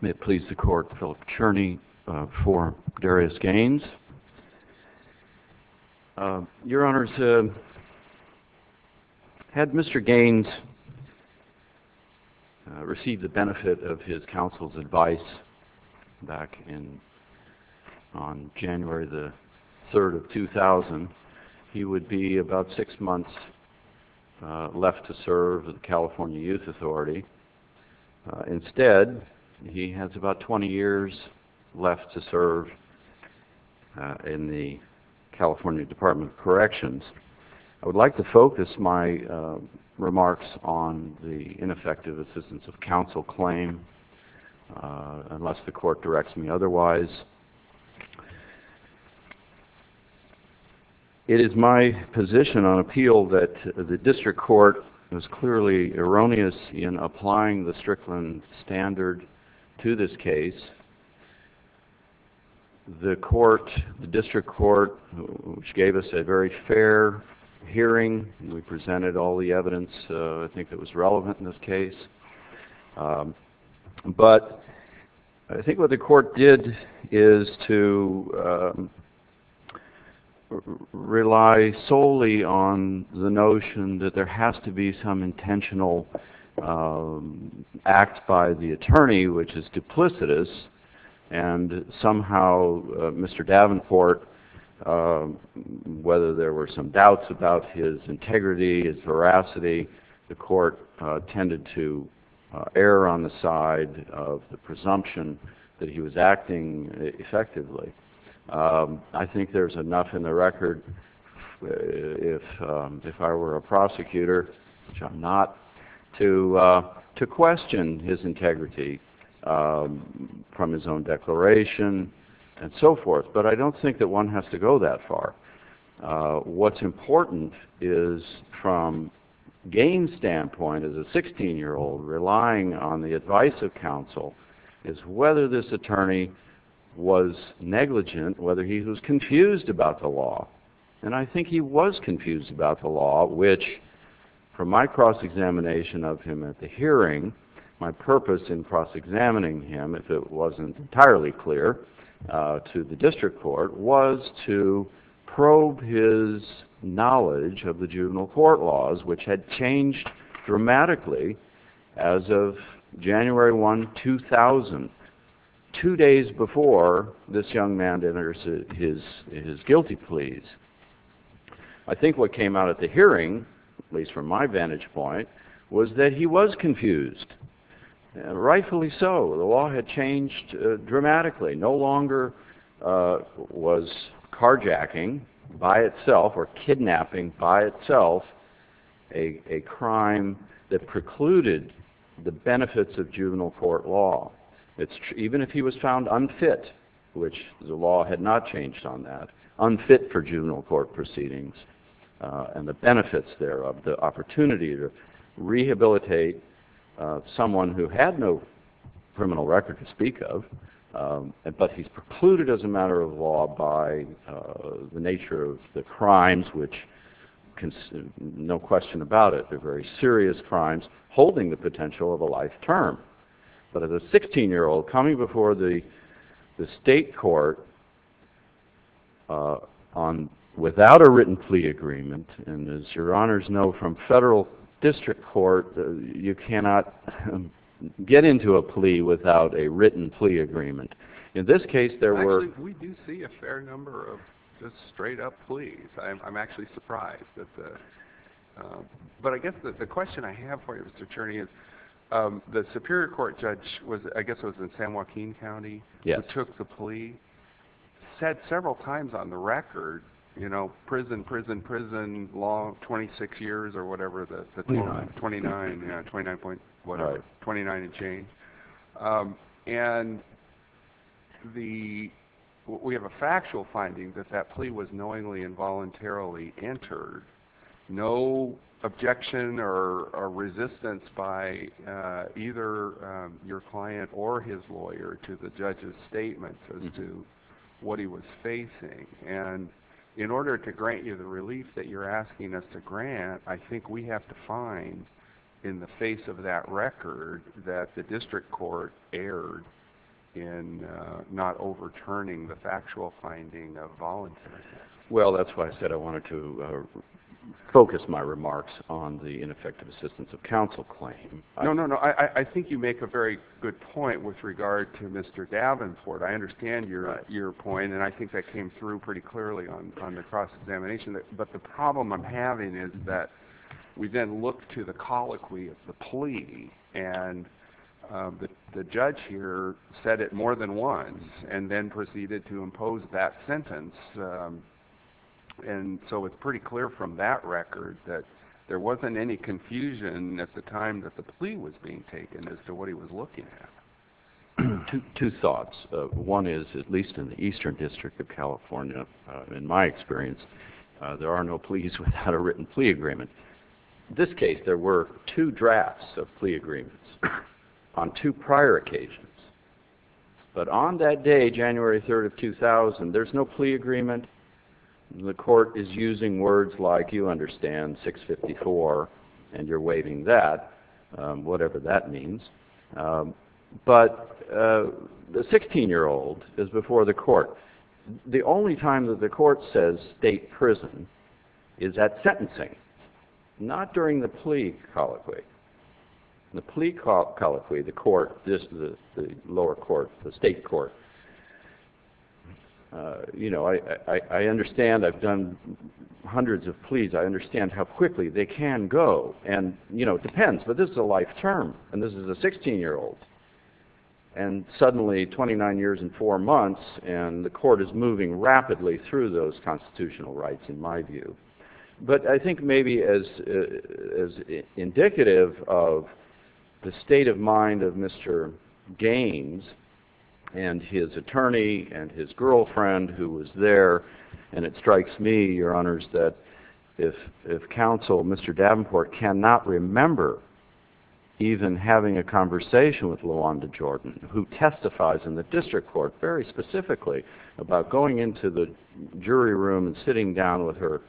May it please the Court, Philip Cherney v. Darius Gaines. Your Honors, had Mr. Gaines received the benefit of his counsel's advice back on January the 3rd of 2000, he would be about six months left to serve at the California Youth Authority. Instead, he has about 20 years left to serve in the California Department of Corrections. I would like to focus my remarks on the ineffective assistance of counsel claim, unless the Court directs me otherwise. It is my position on appeal that the District Court was clearly erroneous in applying the Strickland standard to this case. The court, the District Court, which gave us a very fair hearing, we presented all the evidence I think that was relevant in this case, but I think what the court did is to rely solely on the notion that there has to be some intentional act by the attorney which is duplicitous, and somehow Mr. Davenport, whether there were some doubts about his integrity, his veracity, the court tended to err on the side of the presumption that he was acting effectively. I think there's enough in the record. If I were a prosecutor, which I'm not, to question his integrity from his own declaration and so forth, but I don't think that one has to go that far. What's important is from Gaines' standpoint as a 16-year-old, relying on the advice of counsel, is whether this attorney was negligent, whether he was confused about the law, and I think he was confused about the law, which from my cross-examination of him at the hearing, my purpose in cross-examining him, if it wasn't entirely clear to the District Court, was to probe his knowledge of the juvenile court laws, which had changed dramatically as of January 1, 2000, two days before this young man denounced his guilty pleas. I think what came out at the hearing, at least from my vantage point, was that he was confused, rightfully so. The law had changed dramatically, no longer was carjacking by itself or kidnapping by itself a crime that precluded the juvenile court law. Even if he was found unfit, which the law had not changed on that, unfit for juvenile court proceedings and the benefits thereof, the opportunity to rehabilitate someone who had no criminal record to speak of, but he's precluded as a matter of law by the nature of the crimes, which no question about it, are very serious crimes holding the potential of a life term. But as a 16-year-old coming before the state court without a written plea agreement, and as your honors know from federal district court, you cannot get into a plea without a written plea agreement. In this case, but I guess the question I have for you, Mr. Cherney, is the Superior Court judge was, I guess it was in San Joaquin County, who took the plea, said several times on the record, you know, prison, prison, prison, law, 26 years or whatever the 29, 29 and change. And we have a factual finding that that plea was knowingly and voluntarily entered. No objection or resistance by either your client or his lawyer to the judge's statement as to what he was facing. And in order to grant you the relief that you're asking us to grant, I think we have to find in the face of that record that the district court erred in not overturning the factual finding of voluntarily. Well, that's why I said I wanted to focus my remarks on the ineffective assistance of counsel claim. No, no, no. I think you make a very good point with regard to Mr. Davenport. I understand your point. And I think that came through pretty clearly on the cross-examination. But the problem I'm having is that we then look to the colloquy of the plea and the judge here said it more than once and then proceeded to impose that sentence. And so it's pretty clear from that record that there wasn't any confusion at the time that the plea was being taken as to what he was looking at. Two thoughts. One is, at least in the Eastern District of California, in my experience, there are no pleas without a written plea agreement. This case, there were two drafts of plea agreements on two prior occasions. But on that day, January 3rd of 2000, there's no plea agreement. The court is using words like you understand 654 and you're waving that, whatever that means. But the 16-year-old is before the court. The only time that the court says state prison is at sentencing, not during the plea colloquy. The plea colloquy, the court, the lower court, the state court. I understand I've done hundreds of pleas. I understand how quickly they can go. And it depends. But this is a life term. And this is a 16-year-old. And suddenly 29 years and four months and the court is moving rapidly through those constitutional rights in my view. But I think maybe as indicative of the state of mind of Mr. Gaines and his attorney and his girlfriend who was there, and it strikes me, your honors, that if counsel Mr. Davenport cannot remember even having a conversation with LaWanda Jordan, who testifies in the district court very specifically about going into the jury room and sitting down with her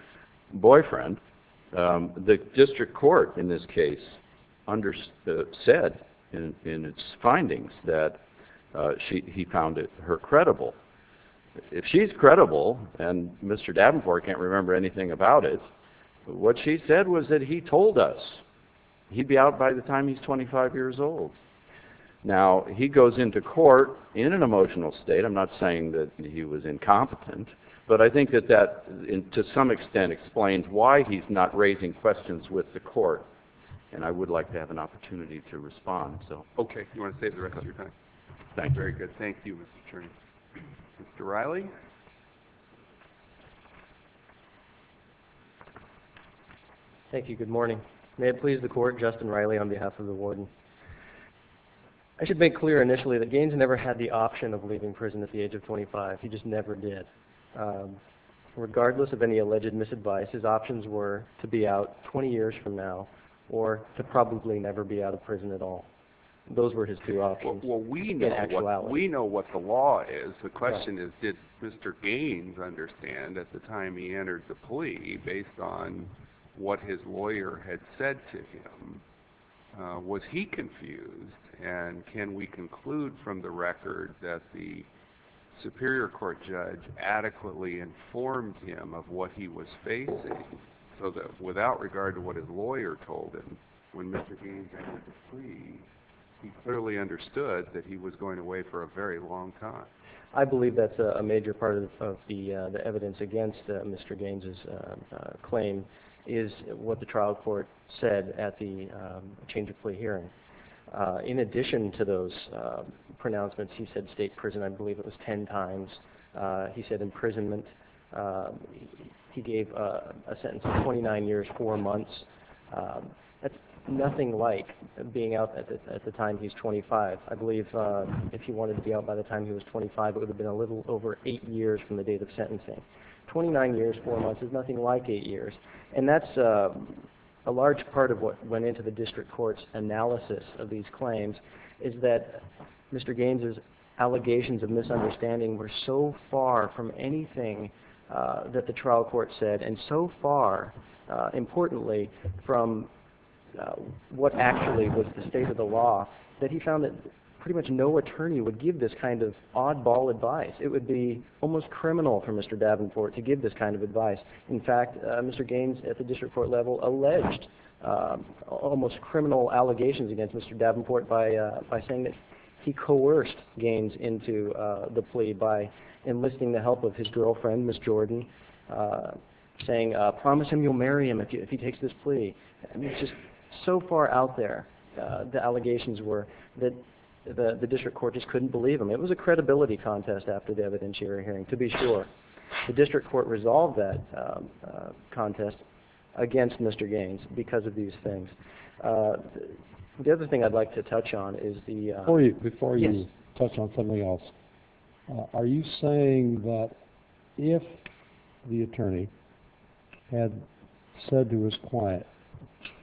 boyfriend, the district court in this case said in its findings that he found her credible. If she's credible and Mr. Davenport, he'd be out by the time he's 25 years old. Now he goes into court in an emotional state. I'm not saying that he was incompetent. But I think that that to some extent explains why he's not raising questions with the court. And I would like to have an opportunity to respond. So okay. You want to save the rest of your time? Thank you. Very good. Thank you, Mr. Turney. Mr. Riley. Thank you. Good morning. May it please the court, Justin Riley on behalf of the warden. I should make clear initially that Gaines never had the option of leaving prison at the age of 25. He just never did. Regardless of any alleged misadvice, his options were to be out 20 years from now or to probably never be out of prison at all. Those were his two options in actuality. Well, we know what the law is. The question is, did Mr. Gaines understand at the time he entered the plea based on what his lawyer had said to him? Was he confused? And can we conclude from the record that the superior court judge adequately informed him of what he was facing? So that without regard to what his lawyer told him when Mr. Gaines entered the plea, he clearly understood that he was going away for a very long time. I believe that's a major part of the evidence against Mr. Gaines's claim is what the trial court said at the change of plea hearing. In addition to those pronouncements, he said state prison, I believe it was 10 times. He said imprisonment. He gave a statement that was nothing like being out at the time he's 25. I believe if he wanted to be out by the time he was 25, it would have been a little over eight years from the date of sentencing. 29 years, four months is nothing like eight years. And that's a large part of what went into the district court's analysis of these claims is that Mr. Gaines's allegations of what actually was the state of the law, that he found that pretty much no attorney would give this kind of oddball advice. It would be almost criminal for Mr. Davenport to give this kind of advice. In fact, Mr. Gaines at the district court level alleged almost criminal allegations against Mr. Davenport by saying that he coerced Gaines into the plea by enlisting the help of his family. So far out there, the allegations were that the district court just couldn't believe him. It was a credibility contest after the evidentiary hearing to be sure. The district court resolved that contest against Mr. Gaines because of these things. The other thing I'd like to touch on is the... Before you touch on something else, are you saying that if the attorney had said to his client,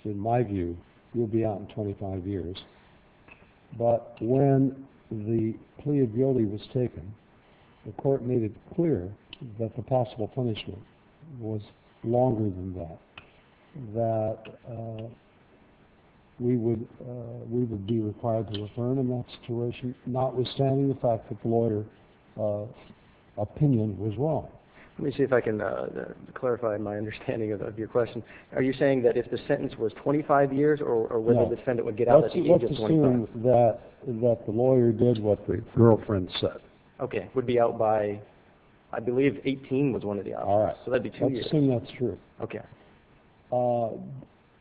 in my view, you'll be out in 25 years, but when the plea of guilty was taken, the court made it clear that the possible punishment was longer than that, that we would, we would not be able to get him out of jail. Let me see if I can clarify my understanding of your question. Are you saying that if the sentence was 25 years or whether the defendant would get out at the age of 25? Let's assume that the lawyer did what the girlfriend said. Okay. Would be out by... I believe 18 was one of the options. All right. So that'd be two years. Let's assume that's true. Okay.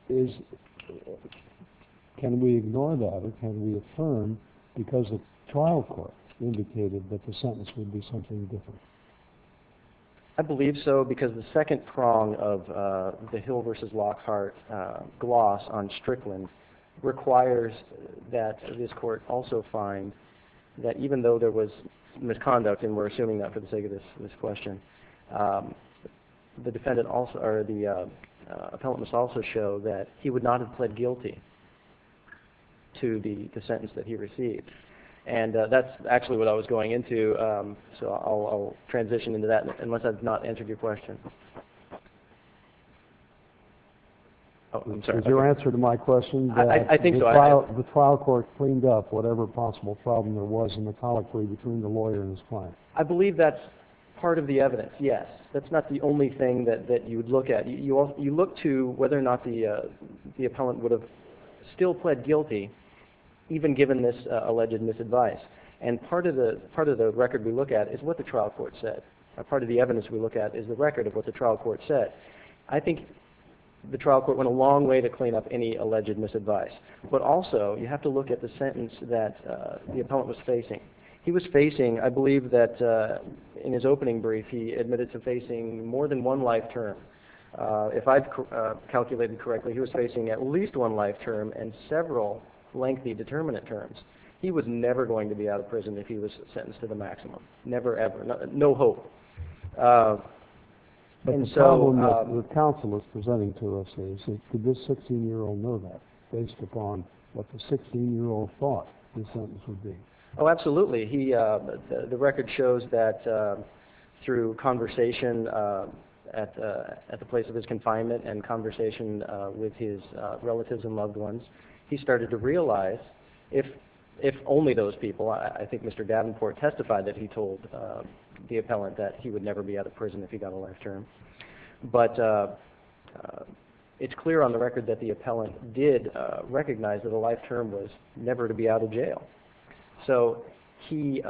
Is... Can we ignore that or can we affirm because the trial court indicated that the sentence would be something different? I believe so because the second prong of the Hill versus Lockhart gloss on Strickland requires that this court also find that even though there was misconduct, and we're assuming that for the sake of this question, the defendant also, or the appellant must also show that he would not have pled guilty to the sentence that he received. And that's actually what I was going into. So I'll transition into that unless I've not answered your question. Oh, I'm sorry. Is your answer to my question that the trial court cleaned up whatever possible problem there was in the colloquy between the lawyer and his client? I believe that's part of the evidence. Yes. That's not the only thing that you would look at. You look to whether or not the appellant would have still pled guilty even given this alleged misadvice. And part of the record we look at is what the trial court said. Part of the evidence we look at is the record of what the trial court said. I think the trial court went a long way to clean up any alleged misadvice. But also you have to look at the sentence that the appellant was facing. He was facing, I believe that in his opening brief, he admitted to facing more than one life term. If I've calculated correctly, he was facing at least one life term and several lengthy determinant terms. He was never going to be out of prison if he was sentenced to the maximum. Never, ever. No hope. The problem that the counsel is presenting to us is, could this 16-year-old know that based upon what the 16-year-old thought the sentence would be? Oh, absolutely. The record shows that through conversation at the place of his confinement and conversation with his relatives and loved ones, he started to realize if only those people, I think Mr. Davenport testified that he told the appellant that he would never be out of prison if he got a life term. But it's clear on the record that the appellant did recognize that a life term was never to be out of jail. So he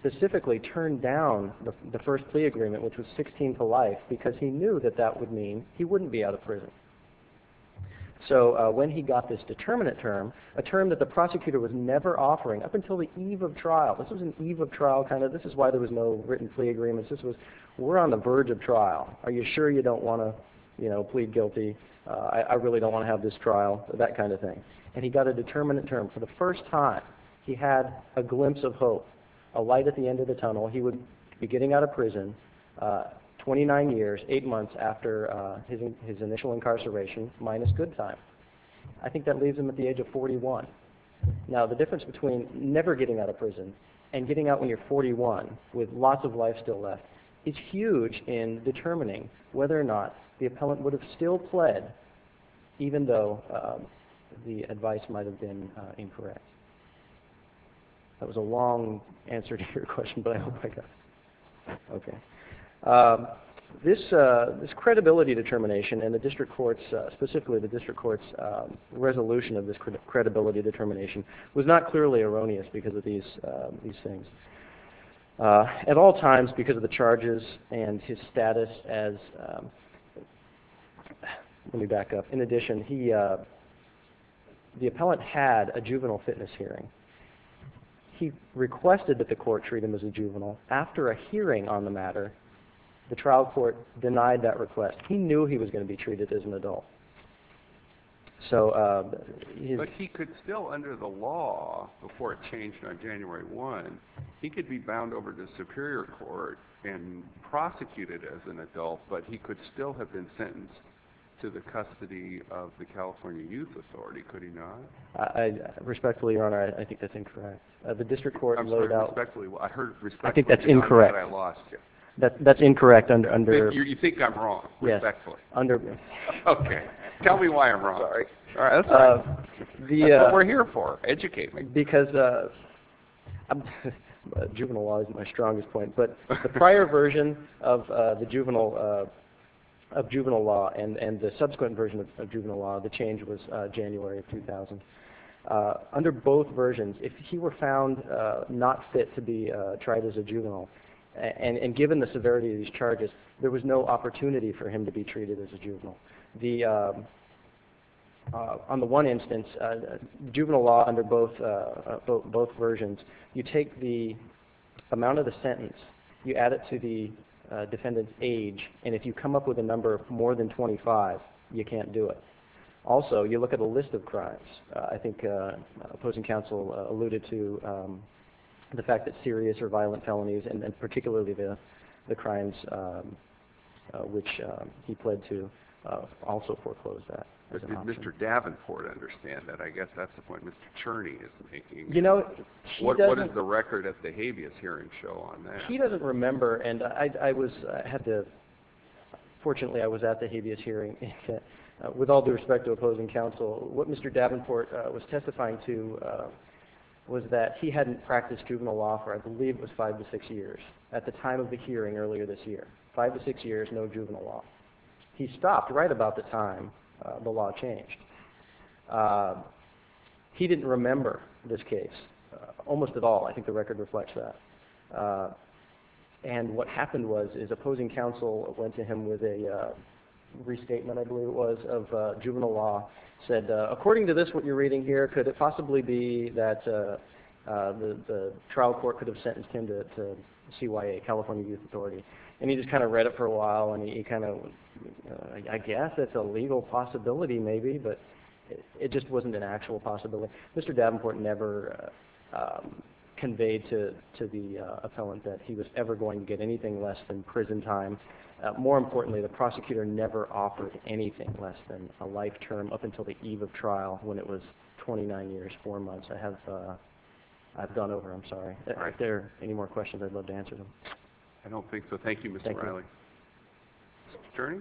specifically turned down the first plea agreement, which was 16 to life, because he knew that that would mean he wouldn't be out of prison. So when he got this determinant term, a term that the prosecutor was never offering up until the eve of trial, this was an eve of trial kind of, this is why there was no written plea agreements. This was, we're on the verge of trial. Are you sure you don't want to plead guilty? I really don't want to have this trial, that kind of thing. And he got a determinant term. For the first time, he had a glimpse of hope, a light at the end of the tunnel. He would be getting out of prison, 29 years, 8 months after his initial incarceration, minus good time. I think that leaves him at the age of 41. Now, the difference between never getting out of prison and getting out when you're 41 with lots of life still left, is huge in determining whether or not the appellant would have still pled, even though the advice might have been incorrect. That was a long answer to your question, but I hope I got it. This credibility determination, and the district court's, specifically the district court's resolution of this credibility determination, was not clearly erroneous because of these things. At all times, because of the charges and his status as, let me back up. In addition, the appellant had a juvenile fitness hearing. He requested that the court treat him as a juvenile. After a hearing on the matter, the trial court denied that request. He knew he was going to be treated as an adult. But he could still, under the law, before it changed on January 1, he could be bound over to superior court and prosecuted as an adult, but he could still have been sentenced to the custody of the California Youth Authority, could he not? Respectfully, your honor, I think that's incorrect. I'm sorry, respectfully, I heard respectfully. I think that's incorrect. I lost you. That's incorrect under. You think I'm wrong, respectfully. Okay, tell me why I'm wrong. Sorry. That's what we're here for, educate me. Because, juvenile law isn't my strongest point, but the prior version of juvenile law and the subsequent version of juvenile law, the change was January of 2000. Under both versions, if he were found not fit to be tried as a juvenile, and given the severity of these charges, there was no opportunity for him to be treated as a juvenile. On the one instance, juvenile law under both versions, you take the amount of the sentence, you add it to the defendant's age, and if you come up with a number more than 25, you can't do it. Also, you look at the list of crimes. I think opposing counsel alluded to the fact that serious or violent felonies and particularly the crimes which he pled to also foreclose that. Did Mr. Davenport understand that? I guess that's the point Mr. Cherney is making. What does the record at the habeas hearing show on that? He doesn't remember, and fortunately I was at the habeas hearing. With all due respect to opposing counsel, what Mr. Davenport was testifying to was that he hadn't practiced juvenile law for I believe it was five to six years at the time of the hearing earlier this year. Five to six years, no juvenile law. He stopped right about the time the law changed. He didn't remember this case almost at all. I think the record reflects that. And what happened was his opposing counsel went to him with a restatement, I believe it was, of juvenile law, said, according to this, what you're reading here, could it possibly be that the trial court could have sentenced him to CYA, California Youth Authority? And he just kind of read it for a while and he kind of, I guess it's a legal possibility maybe, but it just wasn't an actual possibility. Mr. Davenport never conveyed to the appellant that he was ever going to get anything less than prison time. More importantly, the prosecutor never offered anything less than a life term up until the eve of trial when it was 29 years, four months. I have gone over them. Sorry. If there are any more questions, I'd love to answer them. I don't think so. Thank you. Mr. Churney?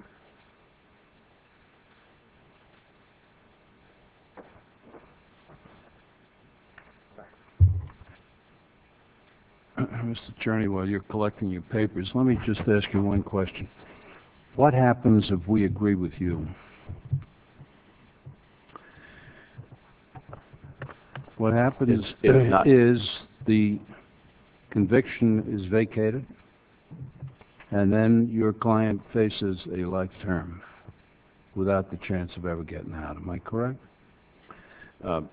Mr. Churney, while you're collecting your papers, let me just ask you one question. What happens if we agree with you? What happens is the conviction is vacated and then your client faces a life term without the chance of ever getting out. Am I correct?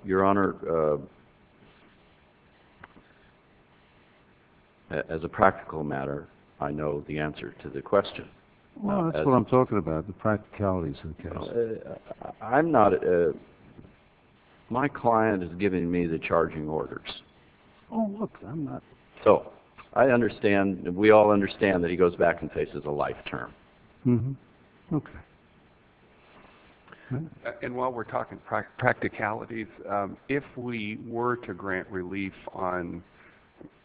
Your Honor, as a practical matter, I know the answer to the question. Well, that's what I'm talking about, the practicalities of the case. I'm not a – my client is giving me the charging orders. Oh, look, I'm not – So I understand, we all understand that he goes back and faces a life term. Okay. And while we're talking practicalities, if we were to grant relief on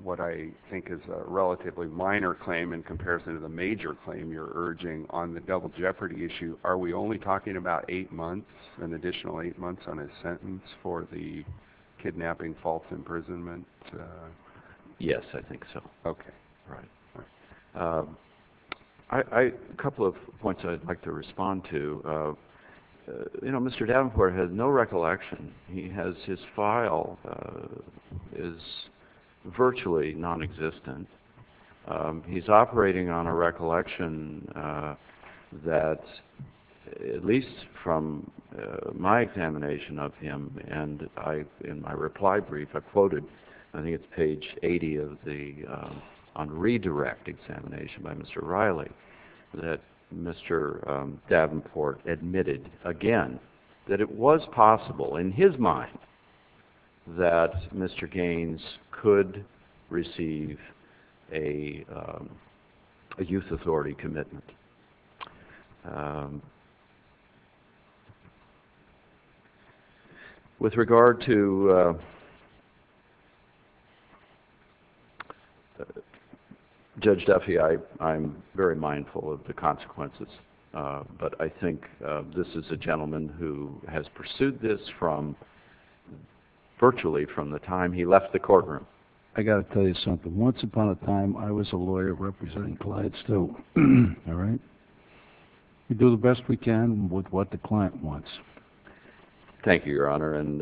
what I think is a relatively minor claim in comparison to the major claim you're urging on the double jeopardy issue, are we only talking about eight months, an additional eight months on his sentence for the kidnapping, false imprisonment? Yes, I think so. Okay. Right. A couple of points I'd like to respond to. You know, Mr. Davenport has no recollection. He has – his file is virtually nonexistent. He's operating on a recollection that, at least from my examination of him and in my reply brief, I quoted, I think it's page 80 of the – on redirect examination by Mr. Riley, that Mr. Davenport admitted again that it was possible, in his mind, that Mr. Gaines could receive a youth authority commitment. With regard to Judge Duffy, I'm very mindful of the consequences. But I think this is a gentleman who has pursued this from – virtually from the time he left the courtroom. I've got to tell you something. Once upon a time, I was a lawyer representing clients, too. All right? We do the best we can with what the client wants. Thank you, Your Honor. And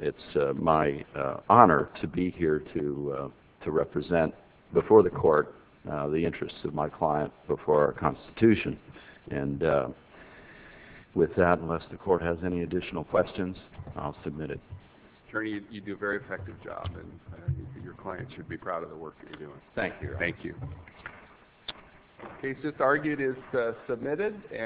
it's my honor to be here to represent before the court the interests of my client before our Constitution. And with that, unless the court has any additional questions, I'll submit it. Attorney, you do a very effective job, and your client should be proud of the work that you're doing. Thank you, Your Honor. Thank you. The case that's argued is submitted.